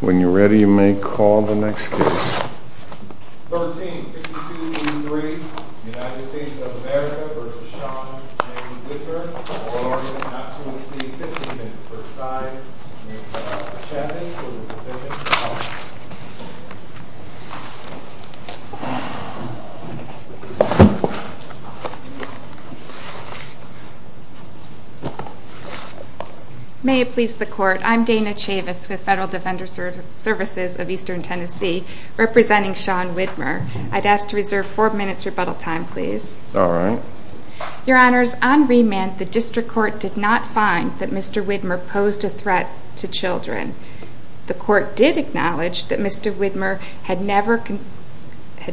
When you're ready you may call the next case. 1362.3 United States of America v. Sean Widmer Order not to receive 15 minutes per side. May it please the court, I'm Dana Chavis with Federal Defender Services of Eastern Tennessee. Representing Sean Widmer, I'd ask to reserve 4 minutes rebuttal time please. Your honors, on remand the district court did not find that Mr. Widmer posed a threat to children. The court did acknowledge that Mr. Widmer had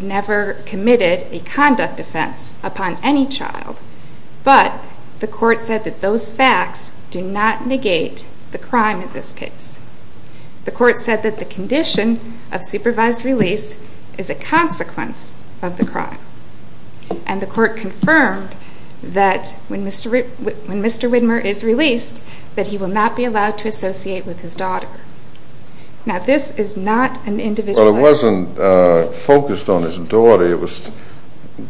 never committed a conduct offense upon any child. But the court said that those facts do not negate the crime in this case. The court said that the condition of supervised release is a consequence of the crime. And the court confirmed that when Mr. Widmer is released that he will not be allowed to associate with his daughter. Now this is not an individualized... Well it wasn't focused on his daughter, it was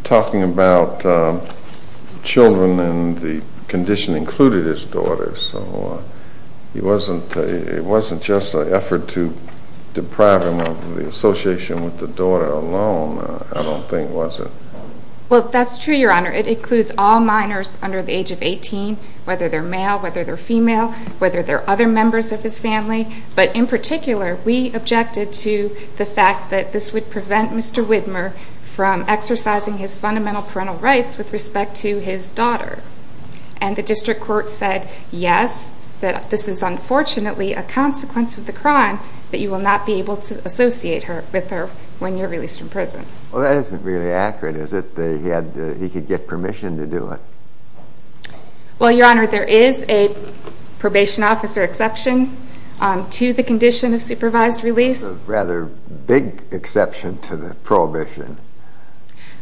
talking about children and the condition included his daughter. So it wasn't just an effort to deprive him of the association with the daughter alone, I don't think was it? Well that's true your honor, it includes all minors under the age of 18, whether they're male, whether they're female, whether they're other members of his family. But in particular we objected to the fact that this would prevent Mr. Widmer from exercising his fundamental parental rights with respect to his daughter. And the district court said yes, that this is unfortunately a consequence of the crime that you will not be able to associate with her when you're released from prison. Well that isn't really accurate is it, that he could get permission to do it? Well your honor, there is a probation officer exception to the condition of supervised release. A rather big exception to the prohibition.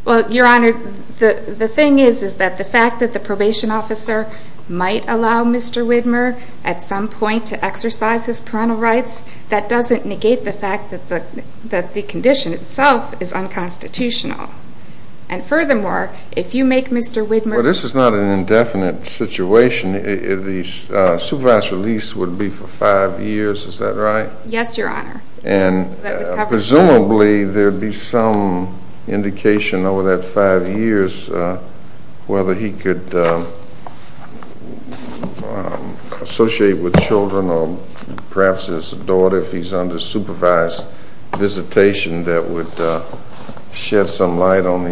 Well your honor, the thing is that the fact that the probation officer might allow Mr. Widmer at some point to exercise his parental rights, that doesn't negate the fact that the condition itself is unconstitutional. And furthermore, if you make Mr. Widmer... Well this is not an indefinite situation, the supervised release would be for 5 years, is that right? Yes your honor. And presumably there would be some indication over that 5 years whether he could associate with children or perhaps his daughter if he's under supervised visitation that would shed some light on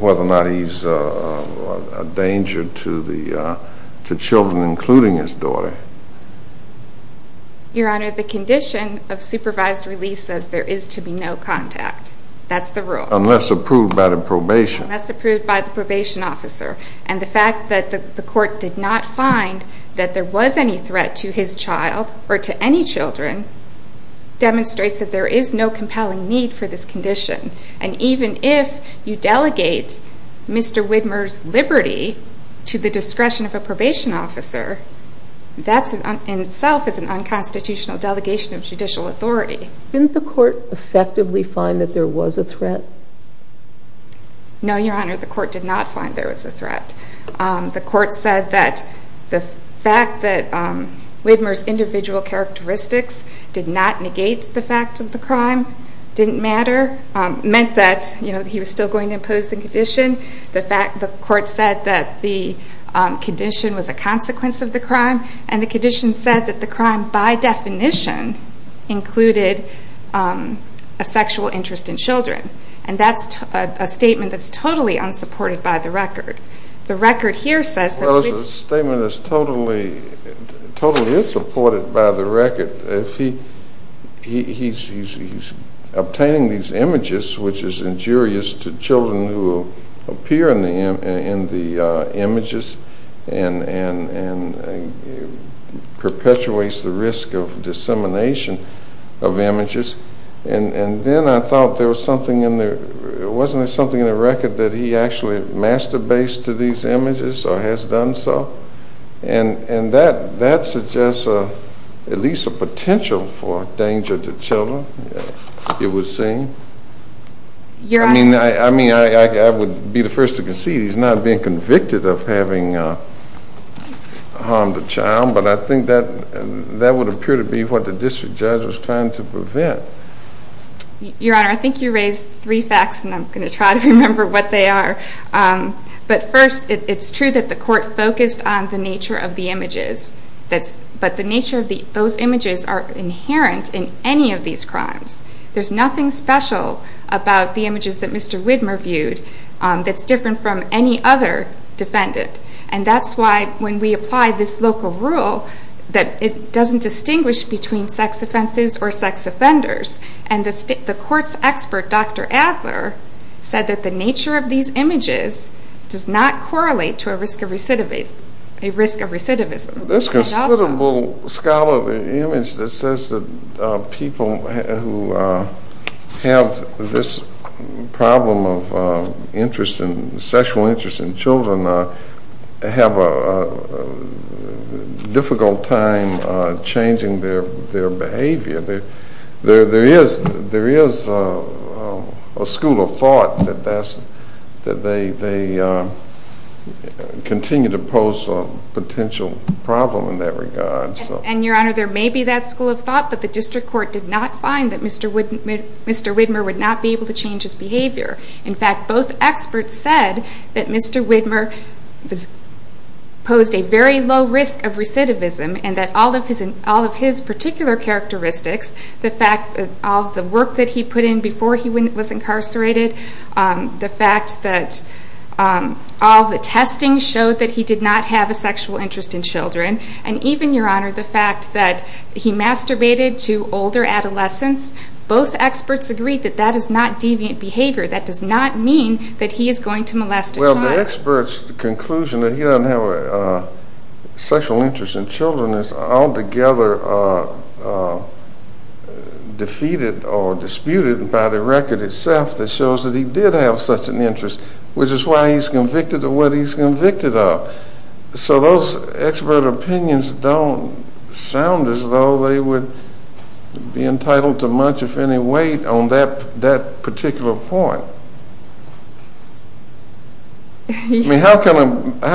whether or not he's a danger to children including his daughter. Your honor, the condition of supervised release says there is to be no contact, that's the rule. Unless approved by the probation. Unless approved by the probation officer. And the fact that the court did not find that there was any threat to his child or to any children demonstrates that there is no compelling need for this condition. And even if you delegate Mr. Widmer's liberty to the discretion of a probation officer, that in itself is an unconstitutional delegation of judicial authority. Didn't the court effectively find that there was a threat? No your honor, the court did not find there was a threat. The court said that the fact that Widmer's individual characteristics did not negate the fact of the crime didn't matter. It meant that he was still going to impose the condition. The court said that the condition was a consequence of the crime. And the condition said that the crime by definition included a sexual interest in children. And that's a statement that's totally unsupported by the record. Well it's a statement that's totally unsupported by the record. He's obtaining these images which is injurious to children who appear in the images and perpetuates the risk of dissemination of images. And then I thought there was something in there, wasn't there something in the record that he actually master based to these images or has done so? And that suggests at least a potential for danger to children it would seem. I mean I would be the first to concede he's not being convicted of having harmed a child but I think that would appear to be what the district judge was trying to prevent. Your Honor, I think you raised three facts and I'm going to try to remember what they are. But first it's true that the court focused on the nature of the images. But the nature of those images are inherent in any of these crimes. There's nothing special about the images that Mr. Widmer viewed that's different from any other defendant. And that's why when we apply this local rule that it doesn't distinguish between sex offenses or sex offenders. And the court's expert, Dr. Adler, said that the nature of these images does not correlate to a risk of recidivism. There's considerable scholarly image that says that people who have this problem of interest in, sexual interest in children have a difficult time changing their behavior. There is a school of thought that they continue to pose a potential problem in that regard. And, Your Honor, there may be that school of thought but the district court did not find that Mr. Widmer would not be able to change his behavior. In fact, both experts said that Mr. Widmer posed a very low risk of recidivism and that all of his particular characteristics, the fact that all of the work that he put in before he was incarcerated, the fact that all of the testing showed that he did not have a sexual interest in children, and even, Your Honor, the fact that he masturbated to older adolescents. Both experts agreed that that is not deviant behavior. That does not mean that he is going to molest a child. The experts' conclusion that he doesn't have a sexual interest in children is altogether defeated or disputed by the record itself that shows that he did have such an interest, which is why he's convicted of what he's convicted of. So those expert opinions don't sound as though they would be entitled to much, if any, weight on that particular point. I mean, how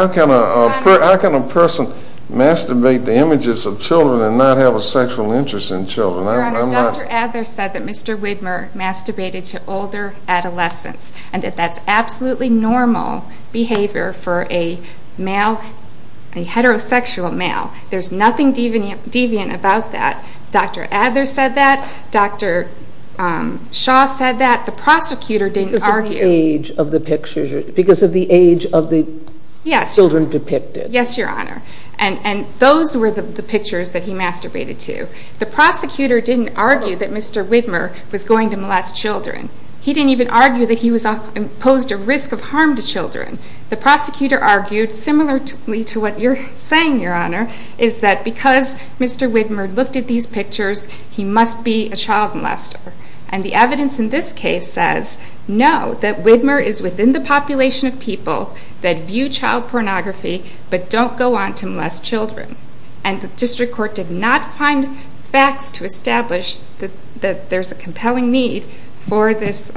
can a person masturbate to images of children and not have a sexual interest in children? Your Honor, Dr. Adler said that Mr. Widmer masturbated to older adolescents and that that's absolutely normal behavior for a male, a heterosexual male. There's nothing deviant about that. Dr. Adler said that. Dr. Shaw said that. The prosecutor didn't argue. Because of the age of the pictures, because of the age of the children depicted. Yes, Your Honor, and those were the pictures that he masturbated to. The prosecutor didn't argue that Mr. Widmer was going to molest children. He didn't even argue that he posed a risk of harm to children. The prosecutor argued, similar to what you're saying, Your Honor, is that because Mr. Widmer looked at these pictures, he must be a child molester. And the evidence in this case says, no, that Widmer is within the population of people that view child pornography but don't go on to molest children. And the district court did not find facts to establish that there's a compelling need for this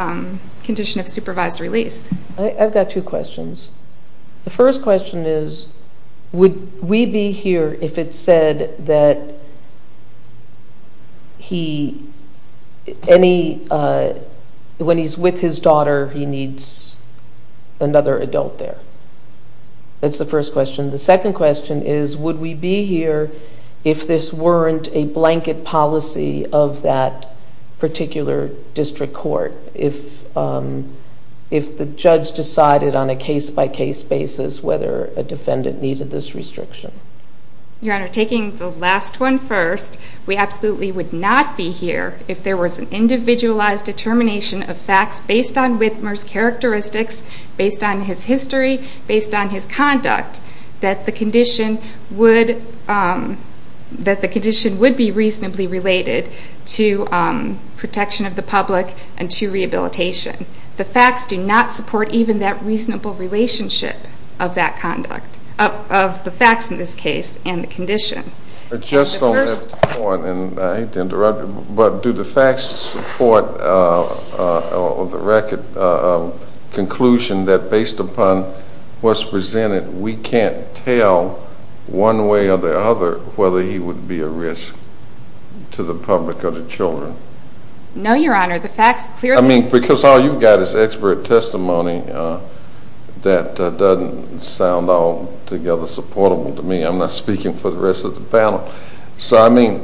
condition of supervised release. I've got two questions. The first question is, would we be here if it said that when he's with his daughter, he needs another adult there? That's the first question. The second question is, would we be here if this weren't a blanket policy of that particular district court, if the judge decided on a case-by-case basis whether a defendant needed this restriction? Your Honor, taking the last one first, we absolutely would not be here if there was an individualized determination of facts based on Widmer's characteristics, based on his history, based on his conduct, that the condition would be reasonably related to protection of the public and to rehabilitation. The facts do not support even that reasonable relationship of that conduct, of the facts in this case and the condition. I just don't have time, and I hate to interrupt, but do the facts support the record of conclusion that based upon what's presented, we can't tell one way or the other whether he would be a risk to the public or the children? No, Your Honor, the facts clearly— I mean, because all you've got is expert testimony that doesn't sound altogether supportable to me. I'm not speaking for the rest of the panel. So, I mean,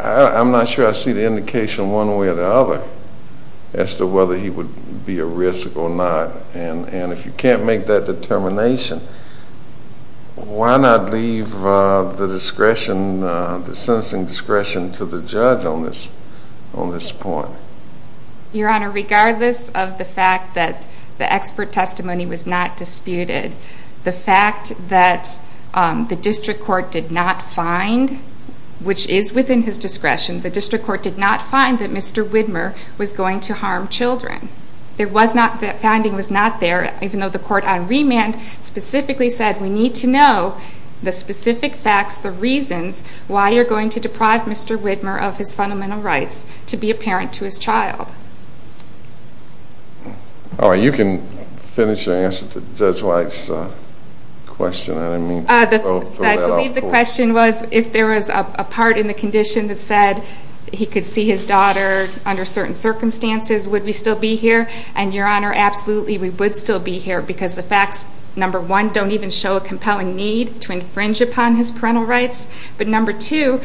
I'm not sure I see the indication one way or the other as to whether he would be a risk or not. And if you can't make that determination, why not leave the discretion, the sentencing discretion to the judge on this point? Your Honor, regardless of the fact that the expert testimony was not disputed, the fact that the district court did not find, which is within his discretion, the district court did not find that Mr. Widmer was going to harm children. That finding was not there, even though the court on remand specifically said we need to know the specific facts, the reasons why you're going to deprive Mr. Widmer of his fundamental rights to be a parent to his child. All right, you can finish your answer to Judge White's question. I didn't mean to throw that out. I believe the question was if there was a part in the condition that said he could see his daughter under certain circumstances, would we still be here? And, Your Honor, absolutely, we would still be here because the facts, number one, don't even show a compelling need to infringe upon his parental rights. But, number two,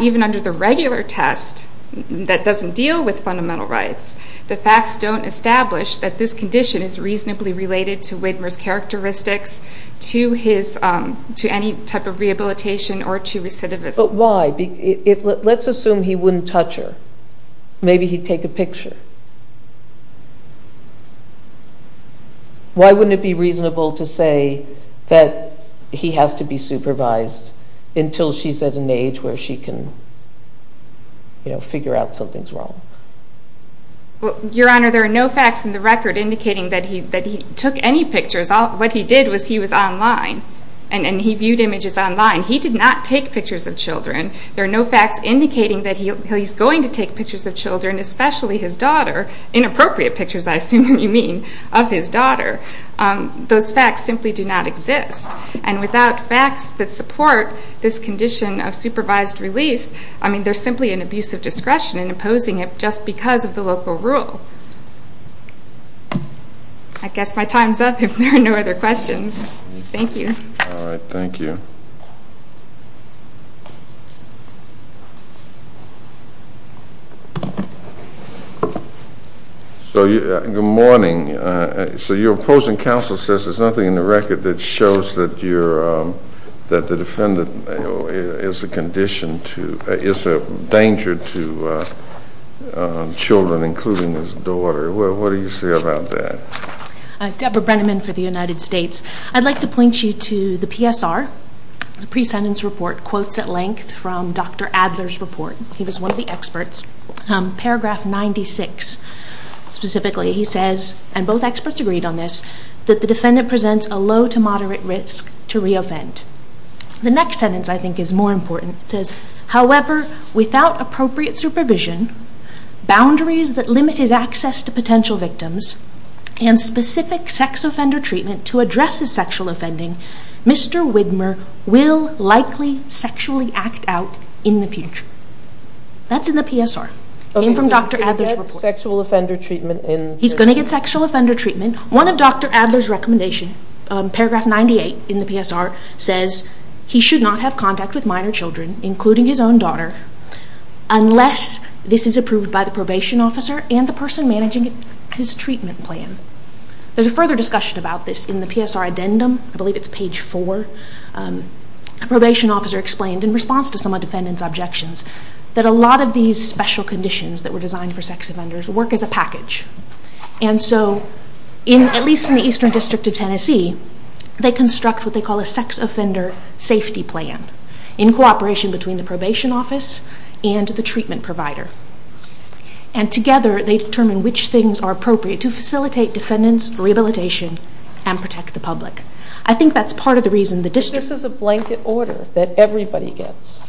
even under the regular test that doesn't deal with fundamental rights, the facts don't establish that this condition is reasonably related to Widmer's characteristics, to any type of rehabilitation or to recidivism. But why? Let's assume he wouldn't touch her. Maybe he'd take a picture. Why wouldn't it be reasonable to say that he has to be supervised until she's at an age where she can figure out something's wrong? Well, Your Honor, there are no facts in the record indicating that he took any pictures. What he did was he was online and he viewed images online. He did not take pictures of children. There are no facts indicating that he's going to take pictures of children, especially his daughter, inappropriate pictures, I assume you mean, of his daughter. Those facts simply do not exist. And without facts that support this condition of supervised release, I mean, there's simply an abuse of discretion in imposing it just because of the local rule. I guess my time's up if there are no other questions. Thank you. All right. Thank you. Good morning. So your opposing counsel says there's nothing in the record that shows that the defendant is a danger to children, including his daughter. What do you say about that? Deborah Brenneman for the United States. I'd like to point you to the PSR, the pre-sentence report, quotes at length from Dr. Adler's report. He was one of the experts. Paragraph 96, specifically, he says, and both experts agreed on this, that the defendant presents a low to moderate risk to re-offend. The next sentence, I think, is more important. It says, however, without appropriate supervision, boundaries that limit his access to potential victims, and specific sex offender treatment to address his sexual offending, Mr. Widmer will likely sexually act out in the future. That's in the PSR. It came from Dr. Adler's report. Okay, so he's going to get sexual offender treatment in the future? He's going to get sexual offender treatment. One of Dr. Adler's recommendations, paragraph 98 in the PSR, says, he should not have contact with minor children, including his own daughter, unless this is approved by the probation officer and the person managing his treatment plan. There's a further discussion about this in the PSR addendum. I believe it's page 4. A probation officer explained, in response to some of the defendant's objections, that a lot of these special conditions that were designed for sex offenders work as a package. And so, at least in the Eastern District of Tennessee, they construct what they call a sex offender safety plan. In cooperation between the probation office and the treatment provider. And together, they determine which things are appropriate to facilitate defendant's rehabilitation and protect the public. I think that's part of the reason the district... This is a blanket order that everybody gets.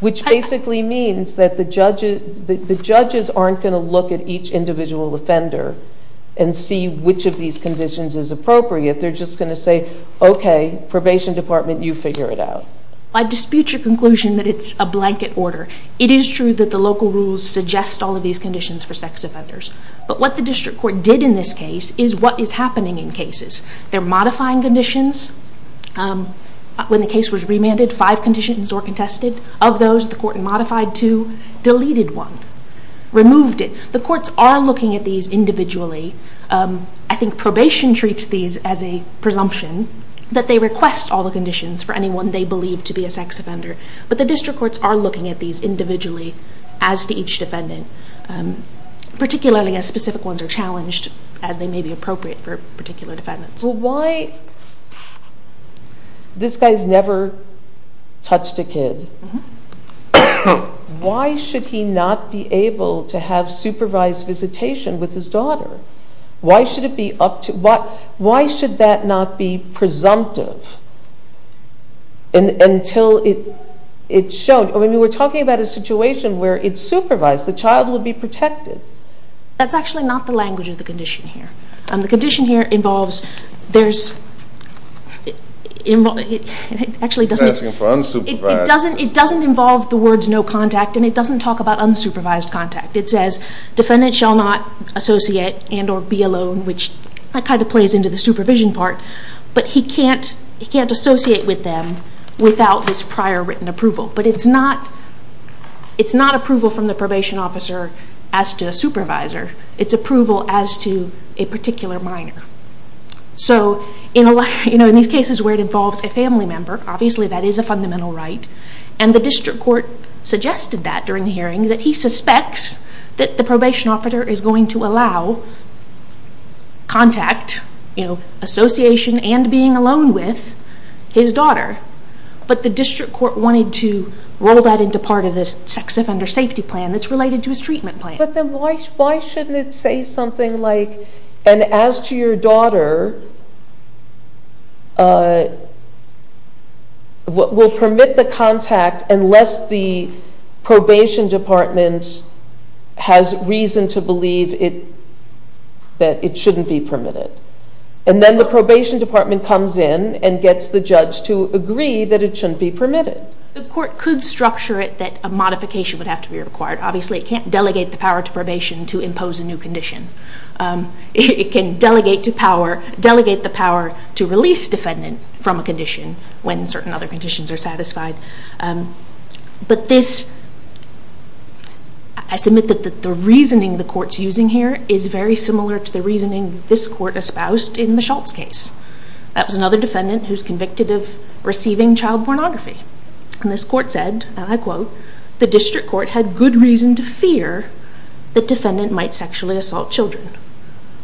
Which basically means that the judges aren't going to look at each individual offender and see which of these conditions is appropriate. They're just going to say, okay, probation department, you figure it out. I dispute your conclusion that it's a blanket order. It is true that the local rules suggest all of these conditions for sex offenders. But what the district court did in this case is what is happening in cases. They're modifying conditions. When the case was remanded, five conditions were contested. Of those, the court modified two, deleted one, removed it. The courts are looking at these individually. I think probation treats these as a presumption that they request all the conditions for anyone they believe to be a sex offender. But the district courts are looking at these individually as to each defendant. Particularly as specific ones are challenged as they may be appropriate for particular defendants. Why... This guy's never touched a kid. Why should he not be able to have supervised visitation with his daughter? Why should it be up to... Why should that not be presumptive until it's shown? I mean, we're talking about a situation where it's supervised. The child would be protected. That's actually not the language of the condition here. The condition here involves... There's... He's asking for unsupervised. It doesn't involve the words no contact, and it doesn't talk about unsupervised contact. It says, defendant shall not associate and or be alone, which kind of plays into the supervision part. But he can't associate with them without this prior written approval. But it's not approval from the probation officer as to a supervisor. It's approval as to a particular minor. So in these cases where it involves a family member, obviously that is a fundamental right, and the district court suggested that during the hearing, that he suspects that the probation officer is going to allow contact, association and being alone with his daughter. But the district court wanted to roll that into part of the sex offender safety plan that's related to his treatment plan. But then why shouldn't it say something like, and as to your daughter, we'll permit the contact unless the probation department has reason to believe that it shouldn't be permitted. And then the probation department comes in and gets the judge to agree that it shouldn't be permitted. The court could structure it that a modification would have to be required. Obviously it can't delegate the power to probation to impose a new condition. It can delegate the power to release defendant from a condition when certain other conditions are satisfied. But this, I submit that the reasoning the court's using here is very similar to the reasoning this court espoused in the Schultz case. That was another defendant who's convicted of receiving child pornography. And this court said, and I quote, the district court had good reason to fear the defendant might sexually assault children.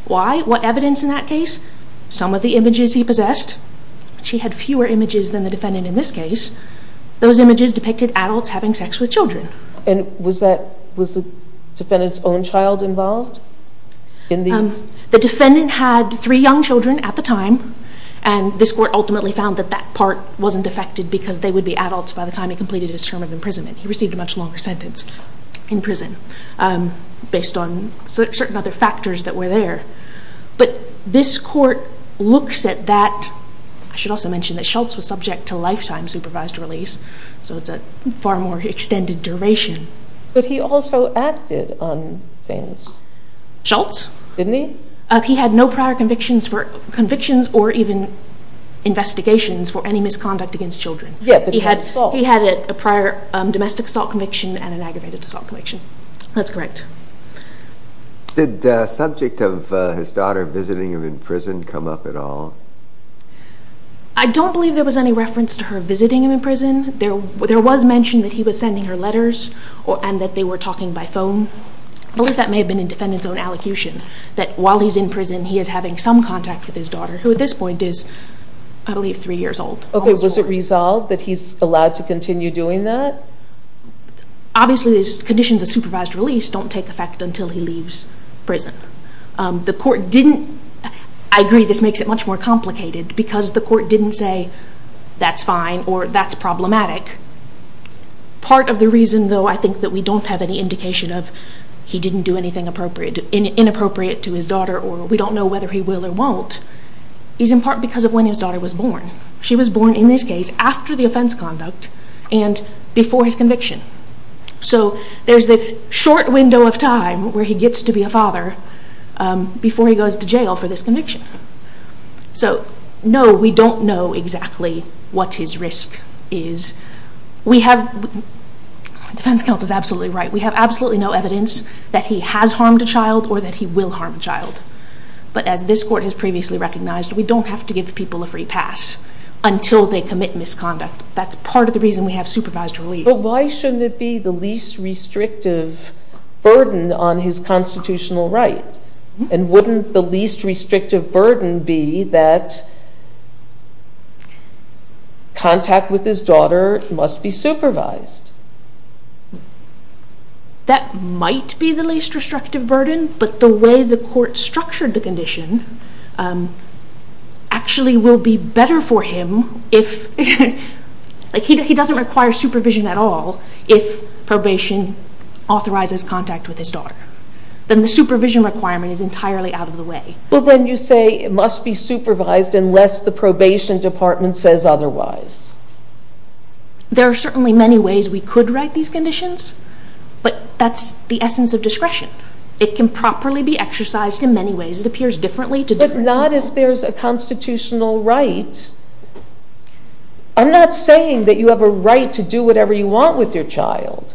Why? What evidence in that case? Some of the images he possessed. She had fewer images than the defendant in this case. Those images depicted adults having sex with children. And was the defendant's own child involved? The defendant had three young children at the time and this court ultimately found that that part wasn't affected because they would be adults by the time he completed his term of imprisonment. He received a much longer sentence in prison based on certain other factors that were there. But this court looks at that. I should also mention that Schultz was subject to lifetime supervised release so it's a far more extended duration. But he also acted on things. Schultz? Didn't he? He had no prior convictions or even investigations for any misconduct against children. He had a prior domestic assault conviction and an aggravated assault conviction. That's correct. Did the subject of his daughter visiting him in prison come up at all? I don't believe there was any reference to her visiting him in prison. There was mention that he was sending her letters and that they were talking by phone. I believe that may have been the defendant's own allocution that while he's in prison he is having some contact with his daughter who at this point is, I believe, 3 years old. Okay, was it resolved that he's allowed to continue doing that? Obviously these conditions of supervised release don't take effect until he leaves prison. The court didn't. I agree this makes it much more complicated because the court didn't say that's fine or that's problematic. Part of the reason though I think that we don't have any indication of he didn't do anything inappropriate to his daughter or we don't know whether he will or won't is in part because of when his daughter was born. She was born, in this case, after the offense conduct and before his conviction. So there's this short window of time where he gets to be a father before he goes to jail for this conviction. So no, we don't know exactly what his risk is. We have, defense counsel is absolutely right, we have absolutely no evidence that he has harmed a child or that he will harm a child. But as this court has previously recognized, we don't have to give people a free pass until they commit misconduct. That's part of the reason we have supervised release. But why shouldn't it be the least restrictive burden on his constitutional right? And wouldn't the least restrictive burden be that contact with his daughter must be supervised? That might be the least restrictive burden, but the way the court structured the condition actually will be better for him if, like he doesn't require supervision at all if probation authorizes contact with his daughter. Then the supervision requirement is entirely out of the way. But then you say it must be supervised unless the probation department says otherwise. There are certainly many ways we could write these conditions, but that's the essence of discretion. It can properly be exercised in many ways. It appears differently to different people. But not if there's a constitutional right. I'm not saying that you have a right to do whatever you want with your child.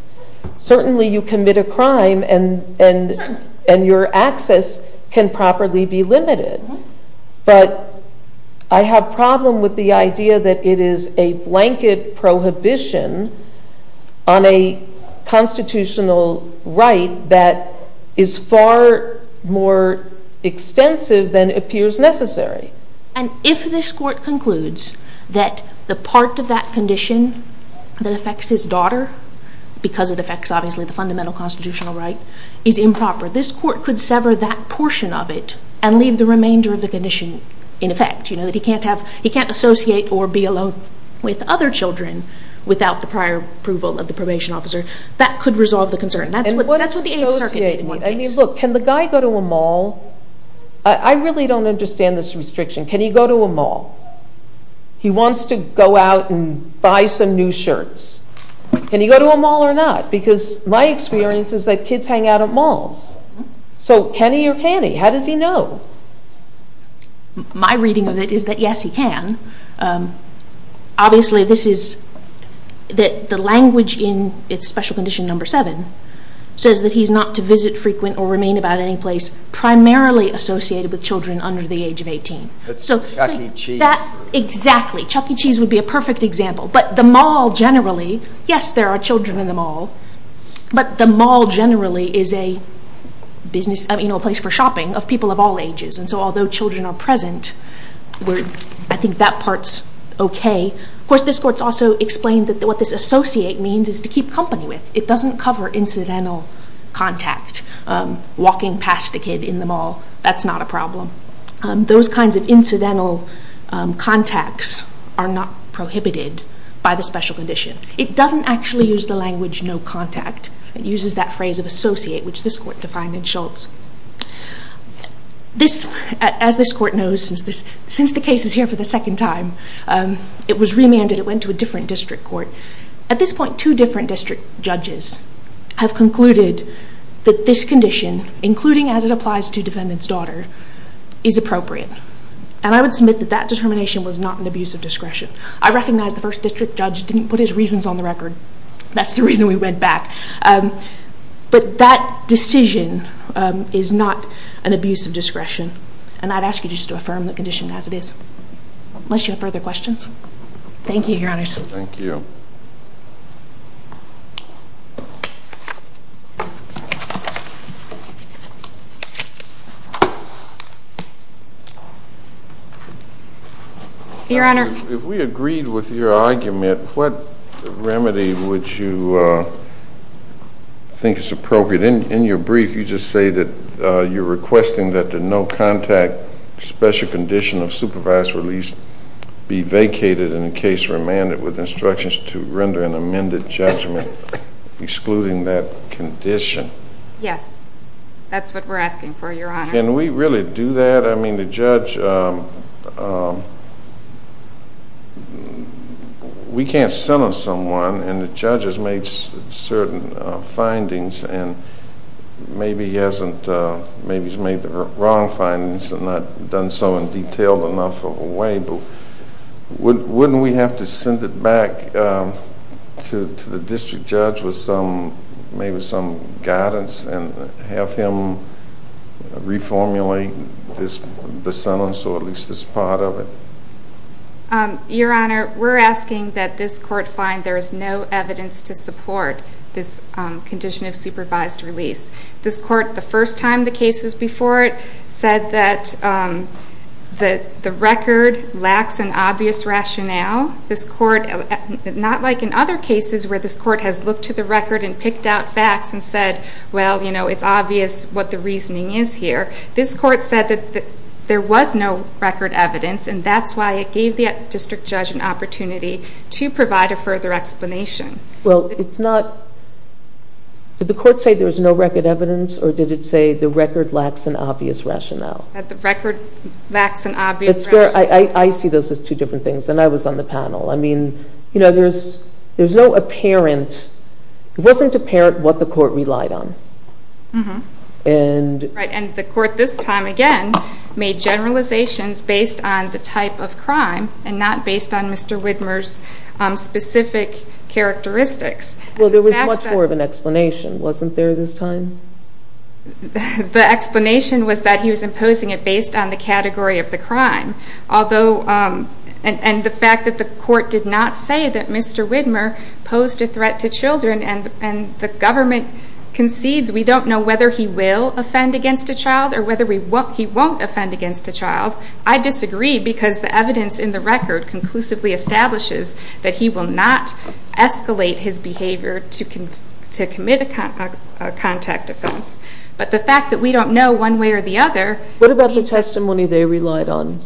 Certainly you commit a crime and your access can properly be limited. But I have problem with the idea that it is a blanket prohibition on a constitutional right that is far more extensive than appears necessary. And if this court concludes that the part of that condition that affects his daughter, because it affects, obviously, the fundamental constitutional right, is improper, this court could sever that portion of it and leave the remainder of the condition in effect. He can't associate or be alone with other children without the prior approval of the probation officer. That could resolve the concern. That's what the Eighth Circuit did in one case. Look, can the guy go to a mall? I really don't understand this restriction. Can he go to a mall? He wants to go out and buy some new shirts. Can he go to a mall or not? Because my experience is that kids hang out at malls. So can he or can he? How does he know? My reading of it is that yes, he can. Obviously, the language in Special Condition No. 7 says that he's not to visit frequent or remain about any place primarily associated with children under the age of 18. That's Chuck E. Cheese. Exactly. Chuck E. Cheese would be a perfect example. But the mall generally... Yes, there are children in the mall. But the mall generally is a place for shopping of people of all ages. So although children are present, I think that part's okay. Of course, this Court has also explained that what this associate means is to keep company with. It doesn't cover incidental contact. Walking past a kid in the mall, that's not a problem. Those kinds of incidental contacts are not prohibited by the Special Condition. It doesn't actually use the language no contact. It uses that phrase of associate, which this Court defined in Schultz. As this Court knows, since the case is here for the second time, it was remanded. It went to a different district court. At this point, two different district judges have concluded that this condition, including as it applies to defendant's daughter, is appropriate. And I would submit that that determination was not an abuse of discretion. I recognize the first district judge didn't put his reasons on the record. That's the reason we went back. But that decision is not an abuse of discretion. And I'd ask you just to affirm the condition as it is. Unless you have further questions. Thank you, Your Honors. Thank you. Your Honor. If we agreed with your argument, what remedy would you think is appropriate? In your brief, you just say that you're requesting that the no contact Special Condition of Supervise Release be vacated in the case remanded with instructions And that's what you're requesting? Yes, Your Honor. Excluding that condition? Yes. That's what we're asking for, Your Honor. Can we really do that? I mean, the judge, we can't sell him someone, and the judge has made certain findings, and maybe he's made the wrong findings and not done so in a detailed enough way. Wouldn't we have to send it back to the district judge with maybe some guidance and have him reformulate the sentence or at least this part of it? Your Honor, we're asking that this court find there is no evidence to support this Condition of Supervised Release. This court, the first time the case was before it, said that the record lacks an obvious rationale. This court, not like in other cases where this court has looked to the record and picked out facts and said, well, you know, it's obvious what the reasoning is here. This court said that there was no record evidence, and that's why it gave the district judge an opportunity to provide a further explanation. Well, it's not... Did the court say there was no record evidence or did it say the record lacks an obvious rationale? That the record lacks an obvious rationale. I see those as two different things, and I was on the panel. I mean, you know, there's no apparent... It wasn't apparent what the court relied on. Mm-hmm. And... Right, and the court this time again made generalizations based on the type of crime Well, there was much more of an explanation, wasn't there this time? The explanation was that he was imposing it based on the category of the crime. Although... And the fact that the court did not say that Mr. Widmer posed a threat to children and the government concedes... We don't know whether he will offend against a child or whether he won't offend against a child. I disagree because the evidence in the record conclusively establishes that he will not escalate his behavior to commit a contact offense. But the fact that we don't know one way or the other... What about the testimony they relied on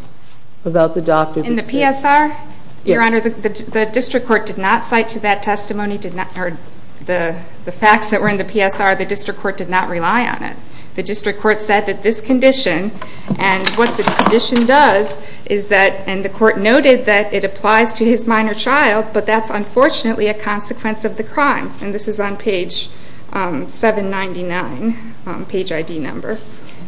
about the doctor? In the PSR? Your Honor, the district court did not cite to that testimony, did not... The facts that were in the PSR, the district court did not rely on it. The district court said that this condition and what the condition does is that... And the court noted that it applies to his minor child, but that's unfortunately a consequence of the crime. And this is on page 799, page ID number.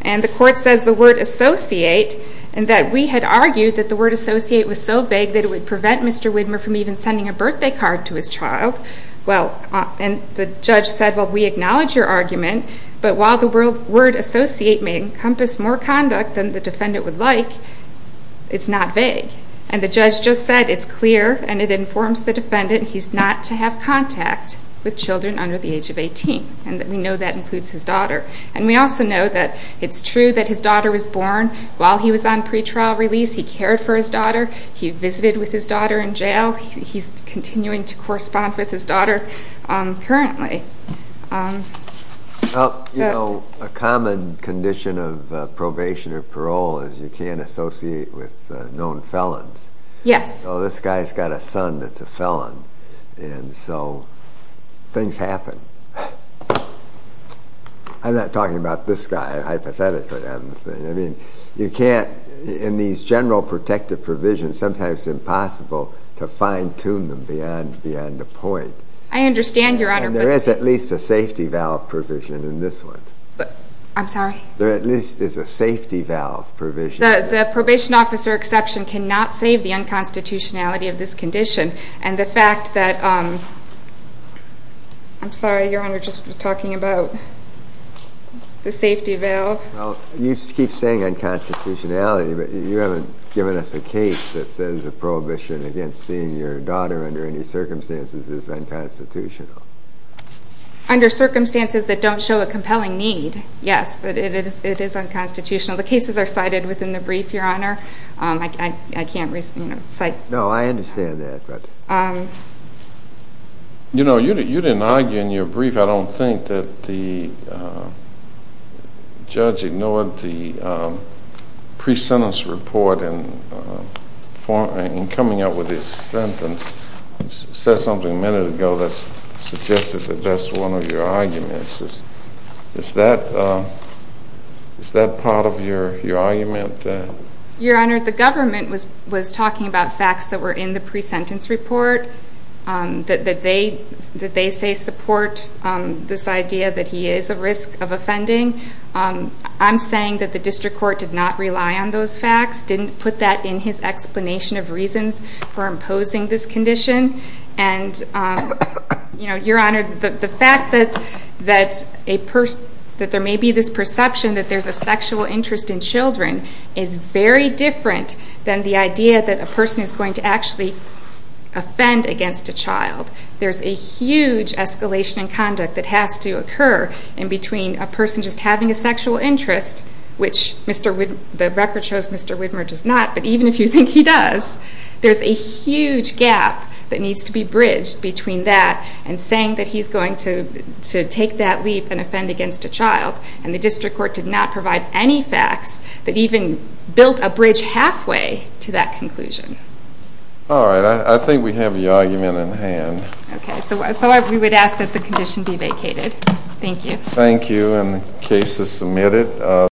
And the court says the word associate and that we had argued that the word associate was so vague that it would prevent Mr. Widmer from even sending a birthday card to his child. Well, and the judge said, well, we acknowledge your argument, but while the word associate may encompass more conduct than the defendant would like, it's not vague. And the judge just said it's clear and it informs the defendant he's not to have contact with children under the age of 18. And we know that includes his daughter. And we also know that it's true that his daughter was born while he was on pretrial release. He cared for his daughter. He visited with his daughter in jail. He's continuing to correspond with his daughter currently. You know, a common condition of probation or parole is you can't associate with known felons. Yes. Oh, this guy's got a son that's a felon. And so things happen. I'm not talking about this guy, hypothetically. I mean, you can't in these general protective provisions, sometimes it's impossible to fine-tune them beyond a point. I understand, Your Honor, but... And there is at least a safety valve provision in this one. I'm sorry? There at least is a safety valve provision. The probation officer exception cannot save the unconstitutionality of this condition. And the fact that... I'm sorry, Your Honor, just was talking about the safety valve. Well, you keep saying unconstitutionality, but you haven't given us a case that says a prohibition against seeing your daughter under any circumstances is unconstitutional. Under circumstances that don't show a compelling need, yes, that it is unconstitutional. The cases are cited within the brief, Your Honor. I can't cite... No, I understand that. You know, you didn't argue in your brief, I don't think, that the judge ignored the pre-sentence report in coming up with his sentence. He said something a minute ago that suggested that that's one of your arguments. Is that part of your argument? Your Honor, the government was talking about facts that were in the pre-sentence report, that they say support this idea that he is at risk of offending. I'm saying that the district court did not rely on those facts, didn't put that in his explanation of reasons for imposing this condition. And, Your Honor, the fact that there may be this perception that there's a sexual interest in children is very different than the idea that a person is going to actually offend against a child. There's a huge escalation in conduct that has to occur in between a person just having a sexual interest, which the record shows Mr. Widmer does not, but even if you think he does, there's a huge gap that needs to be bridged between that and offend against a child. And the district court did not provide any facts that even built a bridge halfway to that conclusion. All right, I think we have your argument in hand. Okay, so we would ask that the condition be vacated. Thank you. Thank you, and the case is submitted.